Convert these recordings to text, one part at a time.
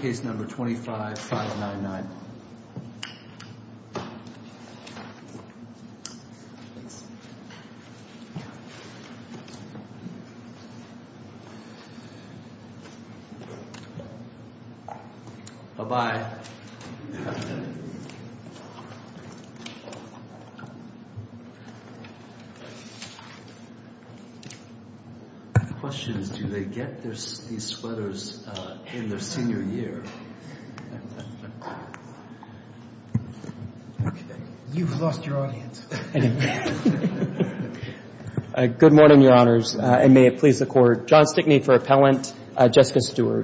case number 25599. Bye-bye. I have questions. Do they get these sweaters in their senior year? You've lost your audience. Good morning, Your Honors, and may it please the Court. John Stickney for Appellant. Your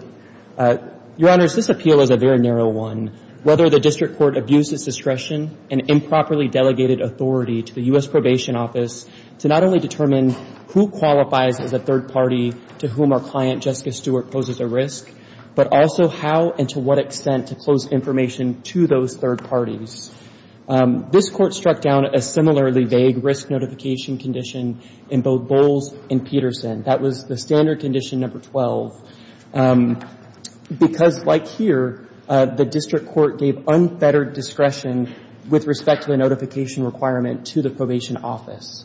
Honors, this appeal is a very narrow one. Whether the District Court abused its discretion and improperly delegated authority to the U.S. Probation Office to not only determine who qualifies as a third party to whom our client, Jessica Stewart, poses a risk, but also how and to what extent to close information to those third parties. This Court struck down a similarly vague risk notification condition in both Bowles and Peterson. That was the standard condition number 12, because like here, the District Court gave unfettered discretion with respect to the notification requirement to the Probation Office.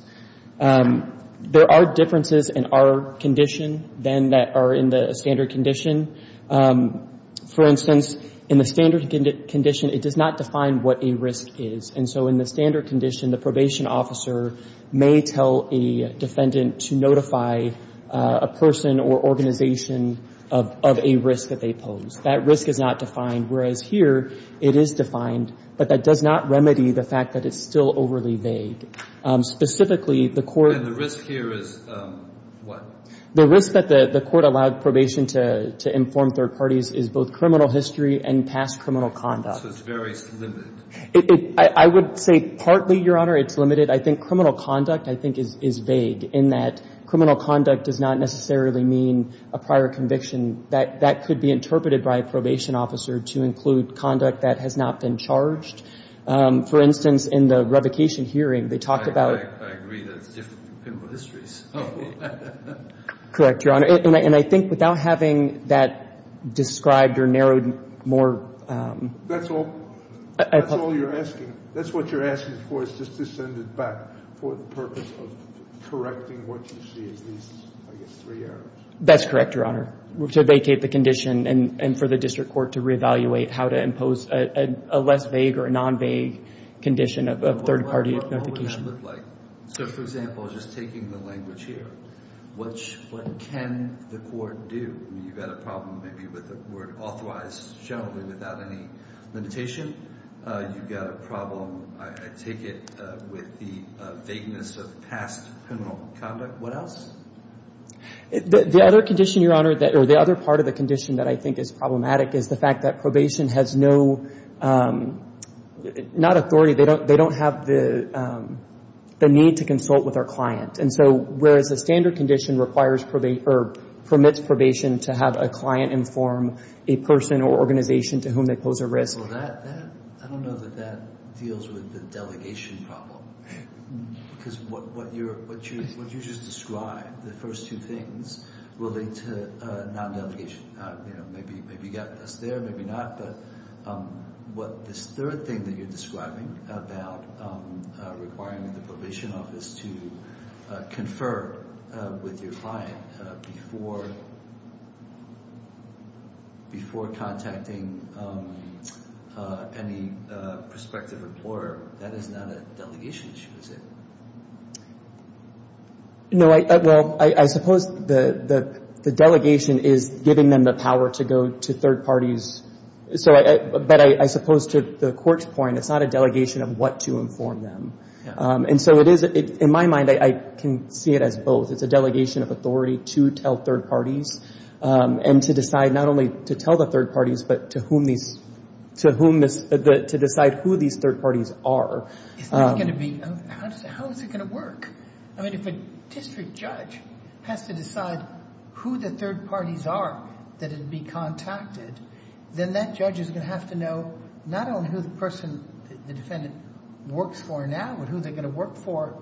There are differences in our condition than that are in the standard condition. For instance, in the standard condition, it does not define what a risk is. And so in the standard condition, the probation officer may tell a defendant to notify a person or organization of a risk that they pose. That risk is not defined, whereas here, it is defined, but that does not remedy the fact that it's still overly vague. Specifically, the Court — And the risk here is what? The risk that the Court allowed probation to inform third parties is both criminal history and past criminal conduct. So it's very limited. I would say partly, Your Honor, it's limited. I think criminal conduct, I think, is vague in that criminal conduct does not necessarily mean a prior conviction. That could be interpreted by a probation officer to include conduct that has not been charged. For instance, in the revocation hearing, they talked about — I agree that it's different people histories. Correct, Your Honor. And I think without having that described or narrowed more — That's all — I apologize. That's all you're asking. That's what you're asking for is just to send it back for the correcting what you see as these, I guess, three errors. That's correct, Your Honor, to vacate the condition and for the district court to reevaluate how to impose a less vague or a non-vague condition of third-party notification. What would that look like? So, for example, just taking the language here, what can the court do? You've got a problem maybe with the word authorized generally without any limitation. You've got a problem, I take it, with the vagueness of past criminal conduct. What else? The other condition, Your Honor, or the other part of the condition that I think is problematic is the fact that probation has no — not authority. They don't have the need to consult with our client. And so whereas the standard condition requires — or permits probation to have a client inform a person or organization to whom they pose a risk — Well, that — I don't know that that deals with the delegation problem. Because what you just described, the first two things, relate to non-delegation. Maybe you got this there, maybe not. But what this third thing that you're describing about requiring the probation office to confer with your client before contacting any prospective employer, that is not a delegation issue, is it? No, well, I suppose the delegation is giving them the power to go to third parties. But I suppose to the court's point, it's not a delegation of what to inform them. And so it is — in my mind, I can see it as both. It's a delegation of authority to tell third parties and to decide not only to tell the third parties, but to whom these — to whom this — to decide who these third parties are. It's not going to be — how is it going to work? I mean, if a district judge has to decide who the third parties are that would be contacted, then that judge is going to have to know not only who the person — the defendant works for now, but who they're going to work for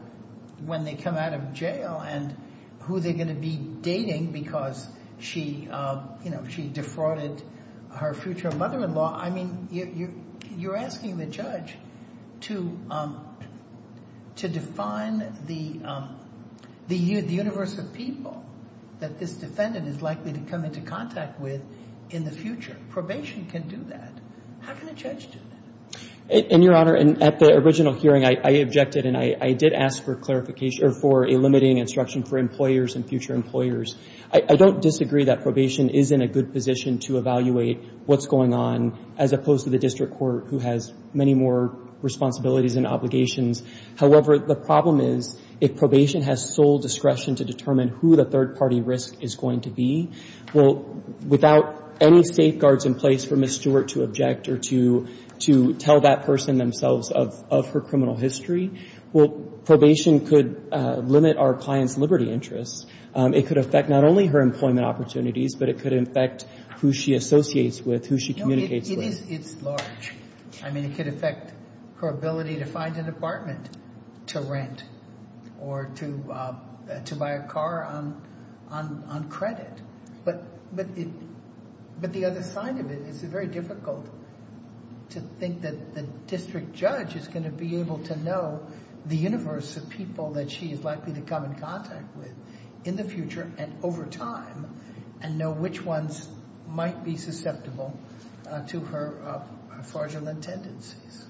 when they come out of jail, and who they're going to be dating because she, you know, she defrauded her future mother-in-law. I mean, you're asking the judge to define the universe of people that this defendant is likely to come into contact with in the future. Probation can do that. How can a judge do that? And, Your Honor, at the original hearing, I objected, and I did ask for clarification — or for a limiting instruction for employers and future employers. I don't disagree that probation is in a good position to evaluate what's going on, as opposed to the district court, who has many more responsibilities and obligations. However, the problem is if probation has sole discretion to determine who the third-party risk is going to be, well, without any safeguards in place for Ms. Stewart to object or to tell that person themselves of her criminal history, well, probation could limit our client's liberty interests. It could affect not only her employment opportunities, but it could affect who she associates with, who she communicates with. No, it is — it's large. I mean, it could affect her ability to find an apartment to rent or to buy a car on credit. But the other side of it is it's very difficult to think that the district judge is going to be able to know the universe of people that she is likely to come in contact with in the future and over time and know which ones might be susceptible to her fraudulent tendencies.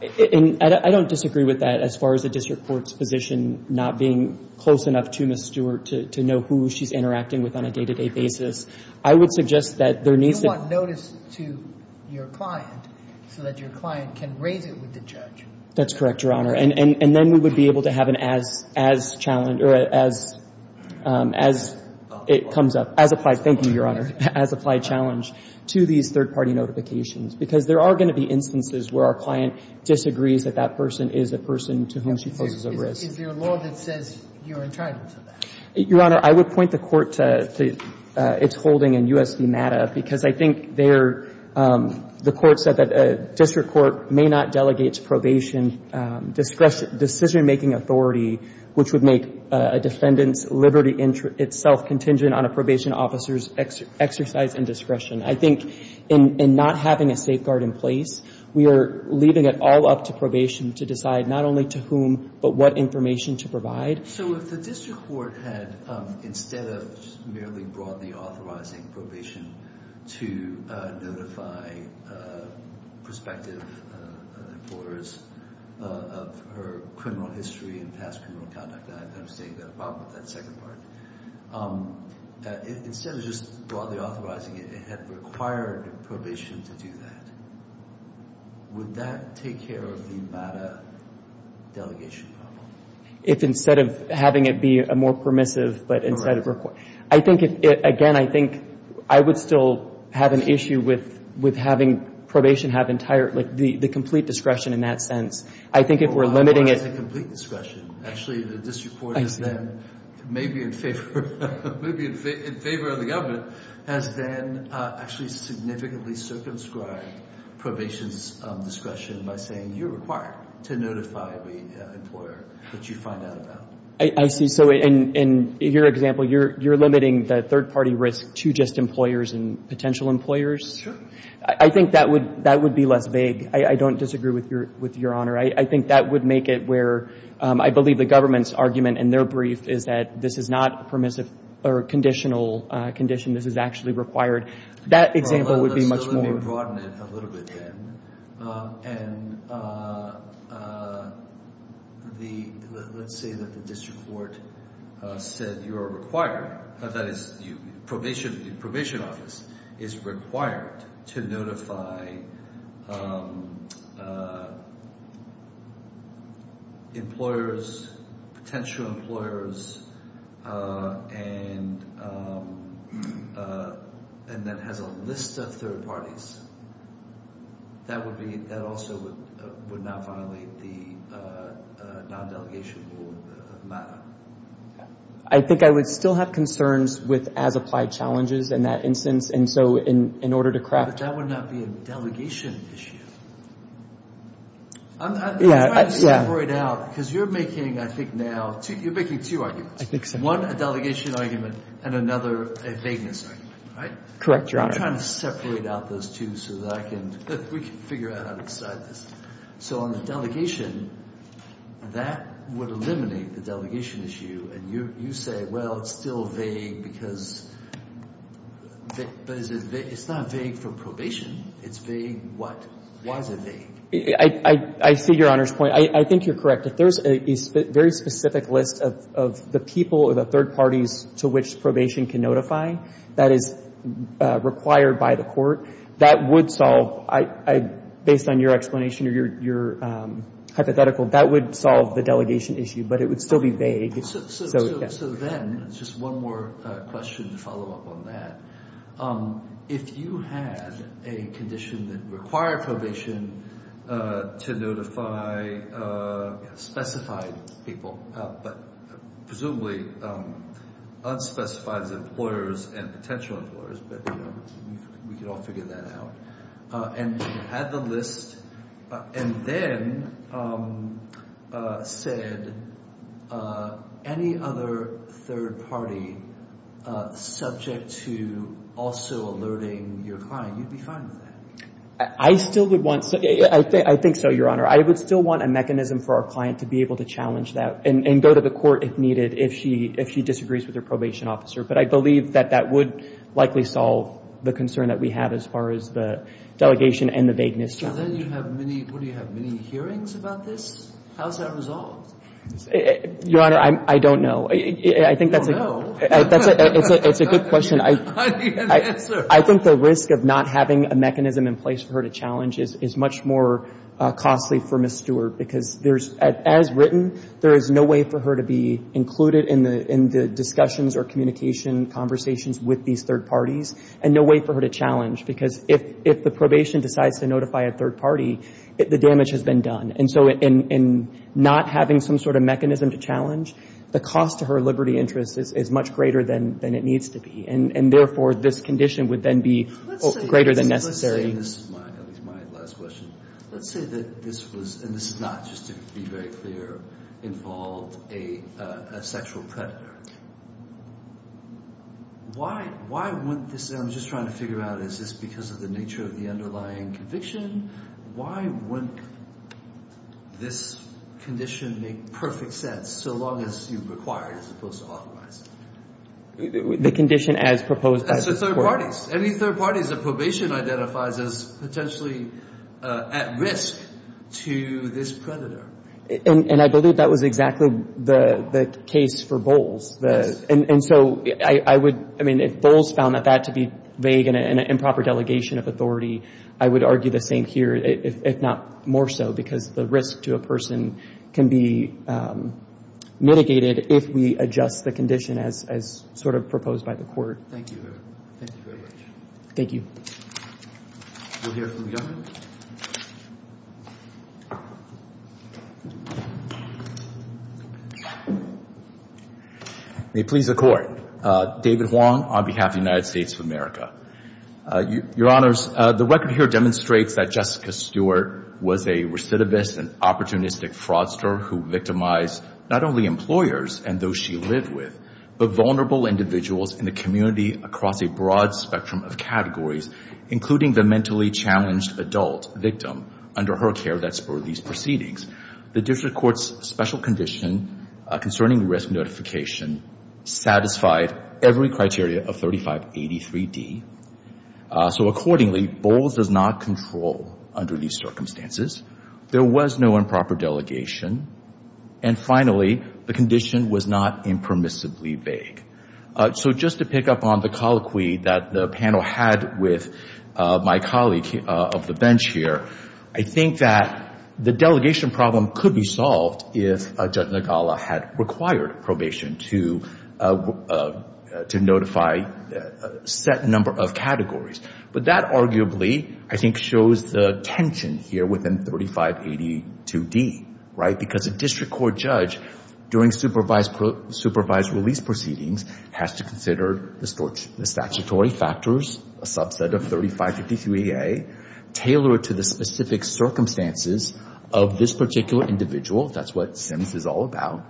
And I don't disagree with that as far as the district court's position not being close enough to Ms. Stewart to know who she's interacting with on a day-to-day basis. I would suggest that there needs to — You want notice to your client so that your client can raise it with the judge. That's correct, Your Honor. And then we would be able to have an as-challenge — or a as-it-comes-up — as-applied — thank you, Your Honor — as-applied challenge to these third-party notifications. Because there are going to be instances where our client disagrees that that person is a person to whom she poses a risk. Is there a law that says you're entitled to that? Your Honor, I would point the Court to its holding in U.S. v. MATA, because I think the Court said that a district court may not delegate to probation decision-making authority, which would make a defendant's liberty itself contingent on a probation officer's exercise and discretion. I think in not having a safeguard in place, we are leaving it all up to probation to decide not only to whom, but what information to provide. So if the district court had, instead of merely broadly authorizing probation to notify prospective importers of her criminal history and past criminal conduct — I understand you've got a problem with that second part — instead of just broadly authorizing it, it had required probation to do that. Would that take care of the MATA delegation problem? If instead of having it be a more permissive, but instead of — I think, again, I think I would still have an issue with having probation have entire — the complete discretion in that sense. I think if we're limiting it — Well, not as a complete discretion. Actually, the district court is then maybe in favor of the government, has then actually significantly circumscribed probation's discretion by saying, you're required to notify the employer that you find out about. I see. So in your example, you're limiting the third-party risk to just employers and potential employers? Sure. I think that would be less vague. I don't disagree with Your Honor. I think that would make it where I believe the government's argument in their brief is that this is not permissive or conditional condition. This is actually required. That example would be much more — broaden it a little bit then. And the — let's say that the district court said you are required — that is, probation office is required to notify employers, potential employers, and that has a list of third parties. That would be — that also would not violate the non-delegation rule of MATA. I think I would still have concerns with as-applied challenges in that instance, and so in order to craft — But that would not be a delegation issue. I'm trying to separate out, because you're making, I think now — You're making two arguments. I think so. One, a delegation argument, and another, a vagueness argument, right? Correct, Your Honor. I'm trying to separate out those two so that I can — we can figure out how to decide this. So on the delegation, that would eliminate the delegation issue, and you say, well, it's still vague because — but it's not vague for probation. It's vague what? Why is it vague? I see Your Honor's point. I think you're correct. If there's a very specific list of the people or the third parties to which probation can notify, that is required by the court. That would solve — based on your explanation or your hypothetical, that would solve the delegation issue, but it would still be vague. So then, just one more question to follow up on that. If you had a condition that required probation to notify specified people, but presumably unspecified as employers and potential employers, but we could all figure that out, and had the list, and then said any other third party subject to also alerting your client, you'd be fine with that? I still would want — I think so, Your Honor. I would still want a mechanism for our client to be able to challenge that and go to the court if needed if she disagrees with her probation officer, but I believe that that would likely solve the concern that we have as far as the delegation and the vagueness challenge. So then you have many — what do you have, many hearings about this? How is that resolved? Your Honor, I don't know. You don't know? It's a good question. I think the risk of not having a mechanism in place for her to challenge is much more costly for Ms. Stewart, because there's — as written, there is no way for her to be included in the discussions or communication conversations with these third parties, and no way for her to challenge, because if the probation decides to notify a third party, the damage has been done. And so in not having some sort of mechanism to challenge, the cost to her liberty interests is much greater than it needs to be, and therefore this condition would then be greater than necessary. Let's say this is my last question. Let's say that this was — and this is not just to be very clear — involved a sexual predator. Why wouldn't this — I'm just trying to figure out, is this because of the nature of the underlying conviction? Why wouldn't this condition make perfect sense so long as you require it as opposed to authorize it? The condition as proposed by the court. Any third parties. Any third parties that probation identifies as potentially at risk to this predator. And I believe that was exactly the case for Bowles. And so I would — I mean, if Bowles found that to be vague and an improper delegation of authority, I would argue the same here, if not more so, because the risk to a person can be mitigated if we adjust the condition as sort of proposed by the court. Thank you. Thank you very much. Thank you. We'll hear from the government. May it please the Court. David Huang on behalf of the United States of America. Your Honors, the record here demonstrates that Jessica Stewart was a recidivist and opportunistic fraudster who victimized not only employers and those she lived with, but vulnerable individuals in the community across a broad spectrum of categories, including the mentally challenged adult victim under her care that spurred these proceedings. The district court's special condition concerning risk notification satisfied every criteria of 3583D. So accordingly, Bowles does not control under these circumstances. There was no improper delegation. And finally, the condition was not impermissibly vague. So just to pick up on the colloquy that the panel had with my colleague of the bench here, I think that the delegation problem could be solved if Judge Nagala had required probation to notify a set number of categories. But that arguably, I think, shows the tension here within 3582D, right? Because a district court judge during supervised release proceedings has to consider the statutory factors, a subset of 3553A, tailored to the specific circumstances of this particular individual. That's what SIMS is all about.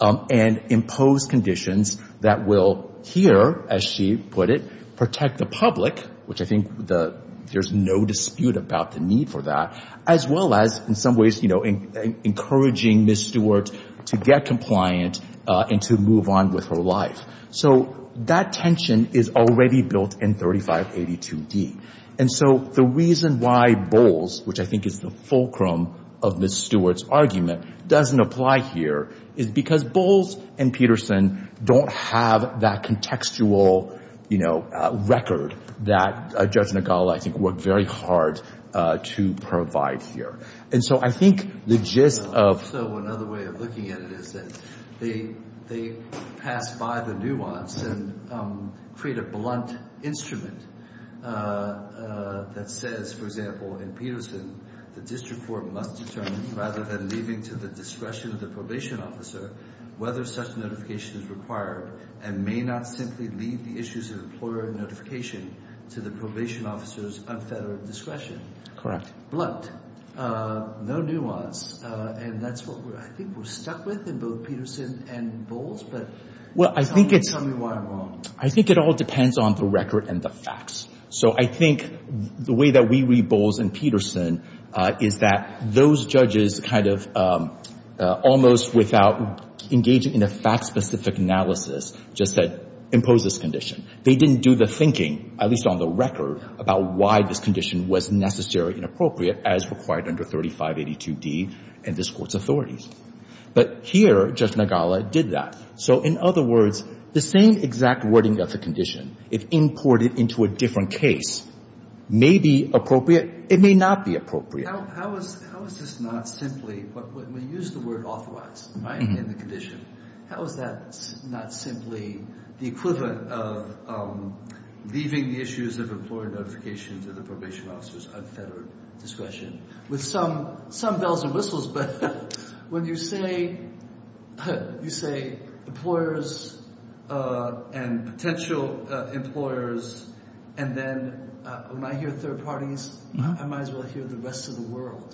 And impose conditions that will here, as she put it, protect the public, which I think there's no dispute about the need for that, as well as in some ways encouraging Ms. Stewart to get compliant and to move on with her life. So that tension is already built in 3582D. And so the reason why Bowles, which I think is the fulcrum of Ms. Stewart's argument, doesn't apply here, is because Bowles and Peterson don't have that contextual record that Judge Nagala, I think, worked very hard to provide here. So another way of looking at it is that they pass by the nuance and create a blunt instrument that says, for example, in Peterson, the district court must determine, rather than leaving to the discretion of the probation officer, whether such notification is required and may not simply leave the issues of employer notification to the probation officer's unfettered discretion. Correct. Blunt. No nuance. And that's what I think we're stuck with in both Peterson and Bowles. But tell me why I'm wrong. I think it all depends on the record and the facts. So I think the way that we read Bowles and Peterson is that those judges kind of almost without engaging in a fact-specific analysis just said, impose this condition. They didn't do the thinking, at least on the record, about why this condition was necessary and appropriate as required under 3582D and this Court's authorities. But here, Judge Nagala did that. So in other words, the same exact wording of the condition, if imported into a different case, may be appropriate. It may not be appropriate. How is this not simply – when we use the word authorized in the condition, how is that not simply the equivalent of leaving the issues of employer notification to the probation officer's unfettered discretion? With some bells and whistles, but when you say employers and potential employers and then when I hear third parties, I might as well hear the rest of the world.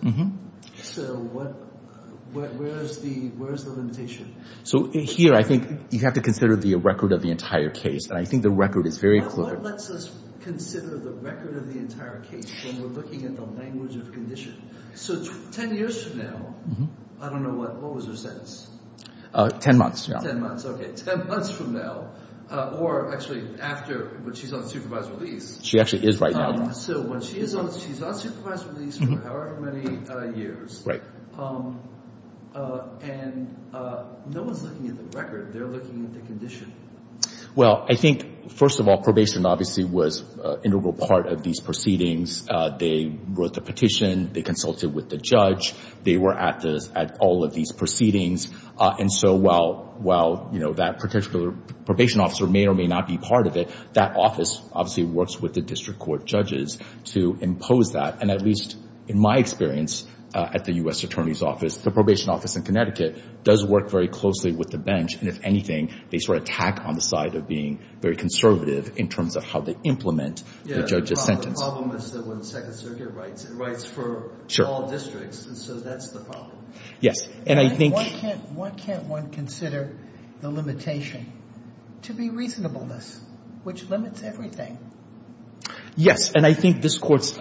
So where is the limitation? So here I think you have to consider the record of the entire case. And I think the record is very clear. What lets us consider the record of the entire case when we're looking at the language of condition? So ten years from now, I don't know what – what was her sentence? Ten months. Ten months. Okay, ten months from now or actually after when she's on supervised release. She actually is right now. So when she is on – she's on supervised release for however many years. Right. And no one's looking at the record. They're looking at the condition. Well, I think, first of all, probation obviously was an integral part of these proceedings. They wrote the petition. They consulted with the judge. They were at all of these proceedings. And so while, you know, that particular probation officer may or may not be part of it, that office obviously works with the district court judges to impose that. And at least in my experience at the U.S. Attorney's Office, the probation office in Connecticut does work very closely with the bench. And if anything, they sort of tack on the side of being very conservative in terms of how they implement the judge's sentence. The problem is that when the Second Circuit writes, it writes for all districts. And so that's the problem. Yes. And I think – Why can't one consider the limitation to be reasonableness, which limits everything? Yes. And I think this Court's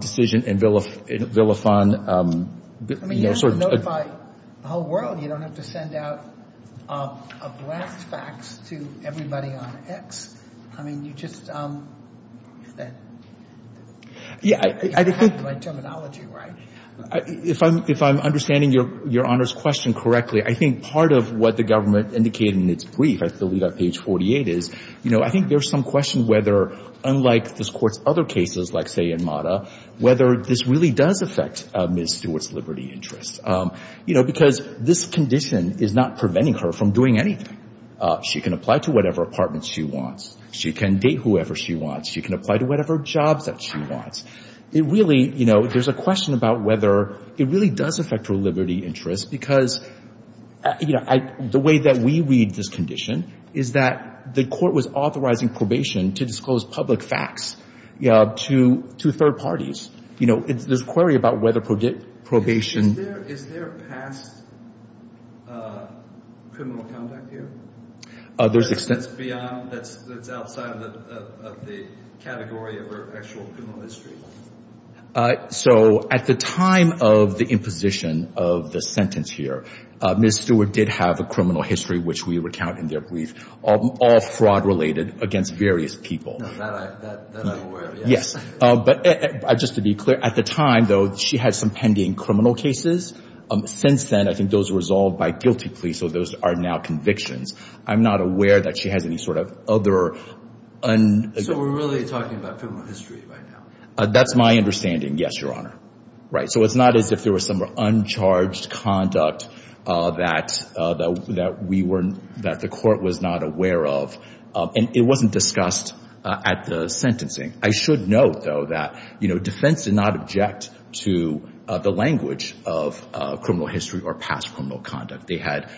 decision in Villefon – I mean, you have to notify the whole world. You don't have to send out a blast fax to everybody on X. I mean, you just – Yeah, I think – You have to have the right terminology, right? If I'm understanding Your Honor's question correctly, I think part of what the government indicated in its brief, I believe on page 48 is, you know, I think there's some question whether, unlike this Court's other cases, like, say, whether this really does affect Ms. Stewart's liberty interests. You know, because this condition is not preventing her from doing anything. She can apply to whatever apartment she wants. She can date whoever she wants. She can apply to whatever jobs that she wants. It really – you know, there's a question about whether it really does affect her liberty interests, because, you know, the way that we read this condition is that the Court was authorizing probation to disclose public facts to third parties. You know, there's a query about whether probation – Is there past criminal conduct here? There's – That's beyond – that's outside of the category of her actual criminal history. So at the time of the imposition of the sentence here, Ms. Stewart did have a criminal history, which we recount in their brief, all fraud-related against various people. No, that I'm aware of, yes. Yes, but just to be clear, at the time, though, she had some pending criminal cases. Since then, I think those were resolved by guilty plea, so those are now convictions. I'm not aware that she has any sort of other – So we're really talking about criminal history right now? That's my understanding, yes, Your Honor. Right, so it's not as if there was some uncharged conduct that we weren't – that the Court was not aware of. And it wasn't discussed at the sentencing. I should note, though, that defense did not object to the language of criminal history or past criminal conduct. They had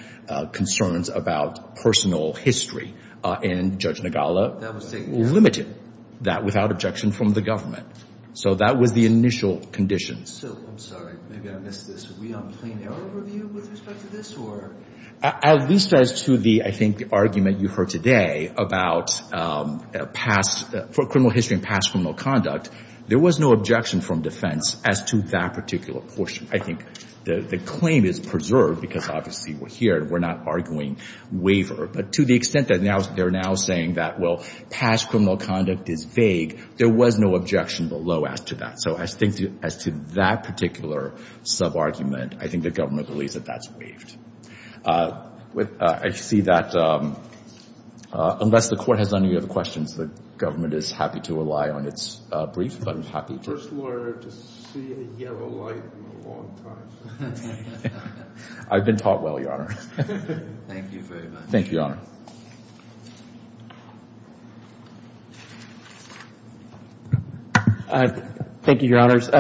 concerns about personal history. And Judge Nagala limited that without objection from the government. So that was the initial condition. So, I'm sorry, maybe I missed this. Are we on plain error review with respect to this, or – At least as to the – I think the argument you heard today about criminal history and past criminal conduct, there was no objection from defense as to that particular portion. I think the claim is preserved because, obviously, we're here and we're not arguing waiver. But to the extent that they're now saying that, well, past criminal conduct is vague, there was no objection below as to that. So I think as to that particular sub-argument, I think the government believes that that's waived. I see that unless the Court has any other questions, the government is happy to rely on its brief, but I'm happy to – First lawyer to see a yellow light in a long time. I've been taught well, Your Honor. Thank you very much. Thank you, Your Honor. Thank you, Your Honors.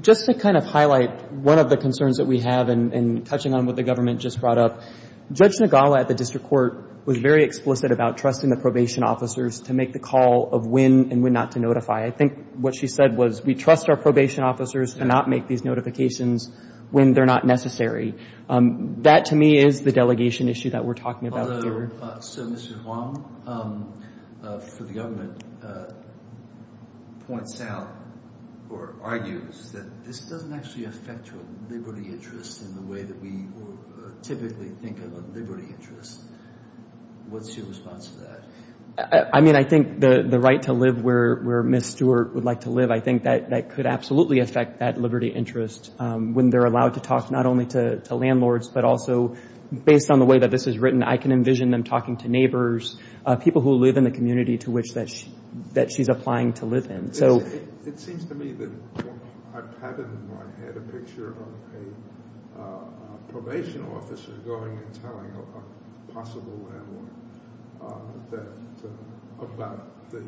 Just to kind of highlight one of the concerns that we have in touching on what the government just brought up, Judge Nagala at the district court was very explicit about trusting the probation officers to make the call of when and when not to notify. I think what she said was we trust our probation officers to not make these notifications when they're not necessary. That, to me, is the delegation issue that we're talking about here. So, Mr. Huang, for the government, points out or argues that this doesn't actually affect your liberty interest in the way that we typically think of a liberty interest. What's your response to that? I mean, I think the right to live where Ms. Stewart would like to live, I think that could absolutely affect that liberty interest when they're allowed to talk not only to landlords, but also based on the way that this is written, I can envision them talking to neighbors, people who live in the community to which that she's applying to live in. It seems to me that I've had in my head a picture of a probation officer going and telling a possible landlord about the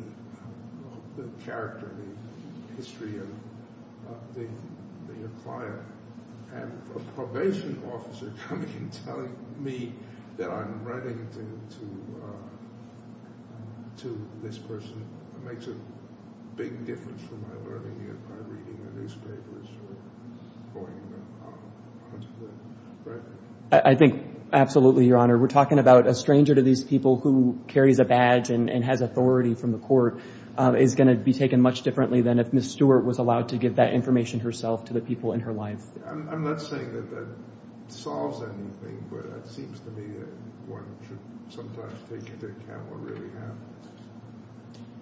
character, the history of the client. I have a probation officer coming and telling me that I'm writing to this person. It makes a big difference for my learning and my reading the newspapers or going out there, right? I think absolutely, Your Honor. We're talking about a stranger to these people who carries a badge and has authority from the court is going to be taken much differently than if Ms. Stewart was allowed to give that information herself to the people in her life. I'm not saying that that solves anything, but it seems to me that one should sometimes take into account what really happens.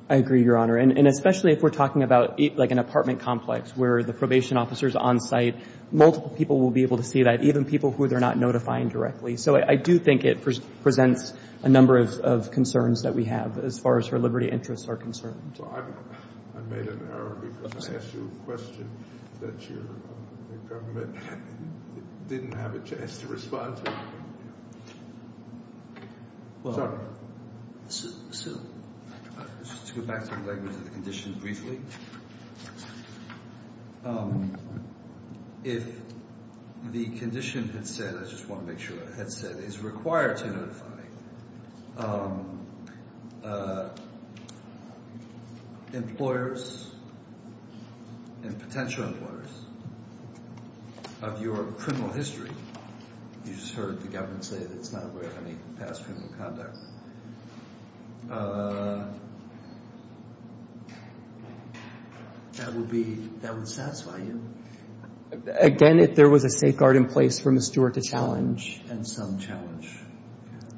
I agree, Your Honor. And especially if we're talking about like an apartment complex where the probation officer is on site, multiple people will be able to see that, even people who they're not notifying directly. So I do think it presents a number of concerns that we have as far as her liberty interests are concerned. I made an error because I asked you a question that your government didn't have a chance to respond to. Sorry. Your Honor, to go back to the language of the condition briefly, if the condition had said, I just want to make sure it had said, is required to notify employers and potential employers of your criminal history, you just heard the government say that it's not required to have any past criminal conduct, that would satisfy you? Again, if there was a safeguard in place for Ms. Stewart to challenge. And some challenge.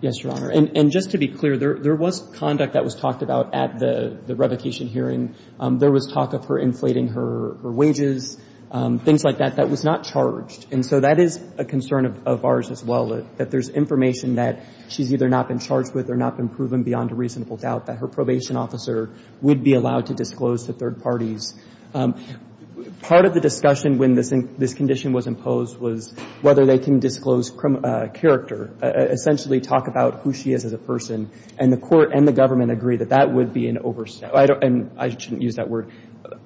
Yes, Your Honor. And just to be clear, there was conduct that was talked about at the revocation hearing. There was talk of her inflating her wages, things like that, that was not charged. And so that is a concern of ours as well, that there's information that she's either not been charged with or not been proven beyond a reasonable doubt that her probation officer would be allowed to disclose to third parties. Part of the discussion when this condition was imposed was whether they can disclose character, essentially talk about who she is as a person. And the court and the government agreed that that would be an overstatement. I shouldn't use that word.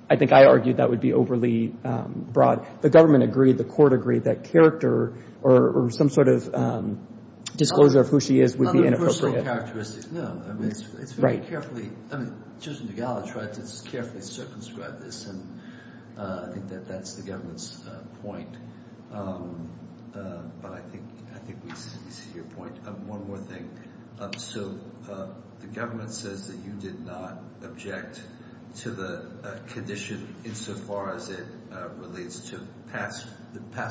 I think I argued that would be overly broad. The government agreed, the court agreed that character or some sort of disclosure of who she is would be inappropriate. On her personal characteristics, no. I mean, it's very carefully, I mean, Judge Nugala tried to carefully circumscribe this, and I think that that's the government's point. But I think we see your point. One more thing. So the government says that you did not object to the condition insofar as it relates to past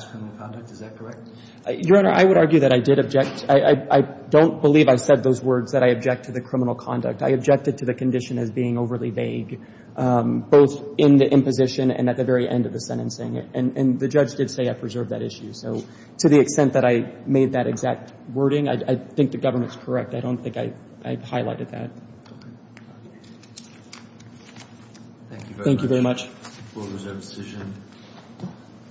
criminal conduct. Is that correct? Your Honor, I would argue that I did object. I don't believe I said those words that I object to the criminal conduct. I objected to the condition as being overly vague, both in the imposition and at the very end of the sentencing. And the judge did say I preserved that issue. So to the extent that I made that exact wording, I think the government's correct. I don't think I highlighted that. Thank you very much.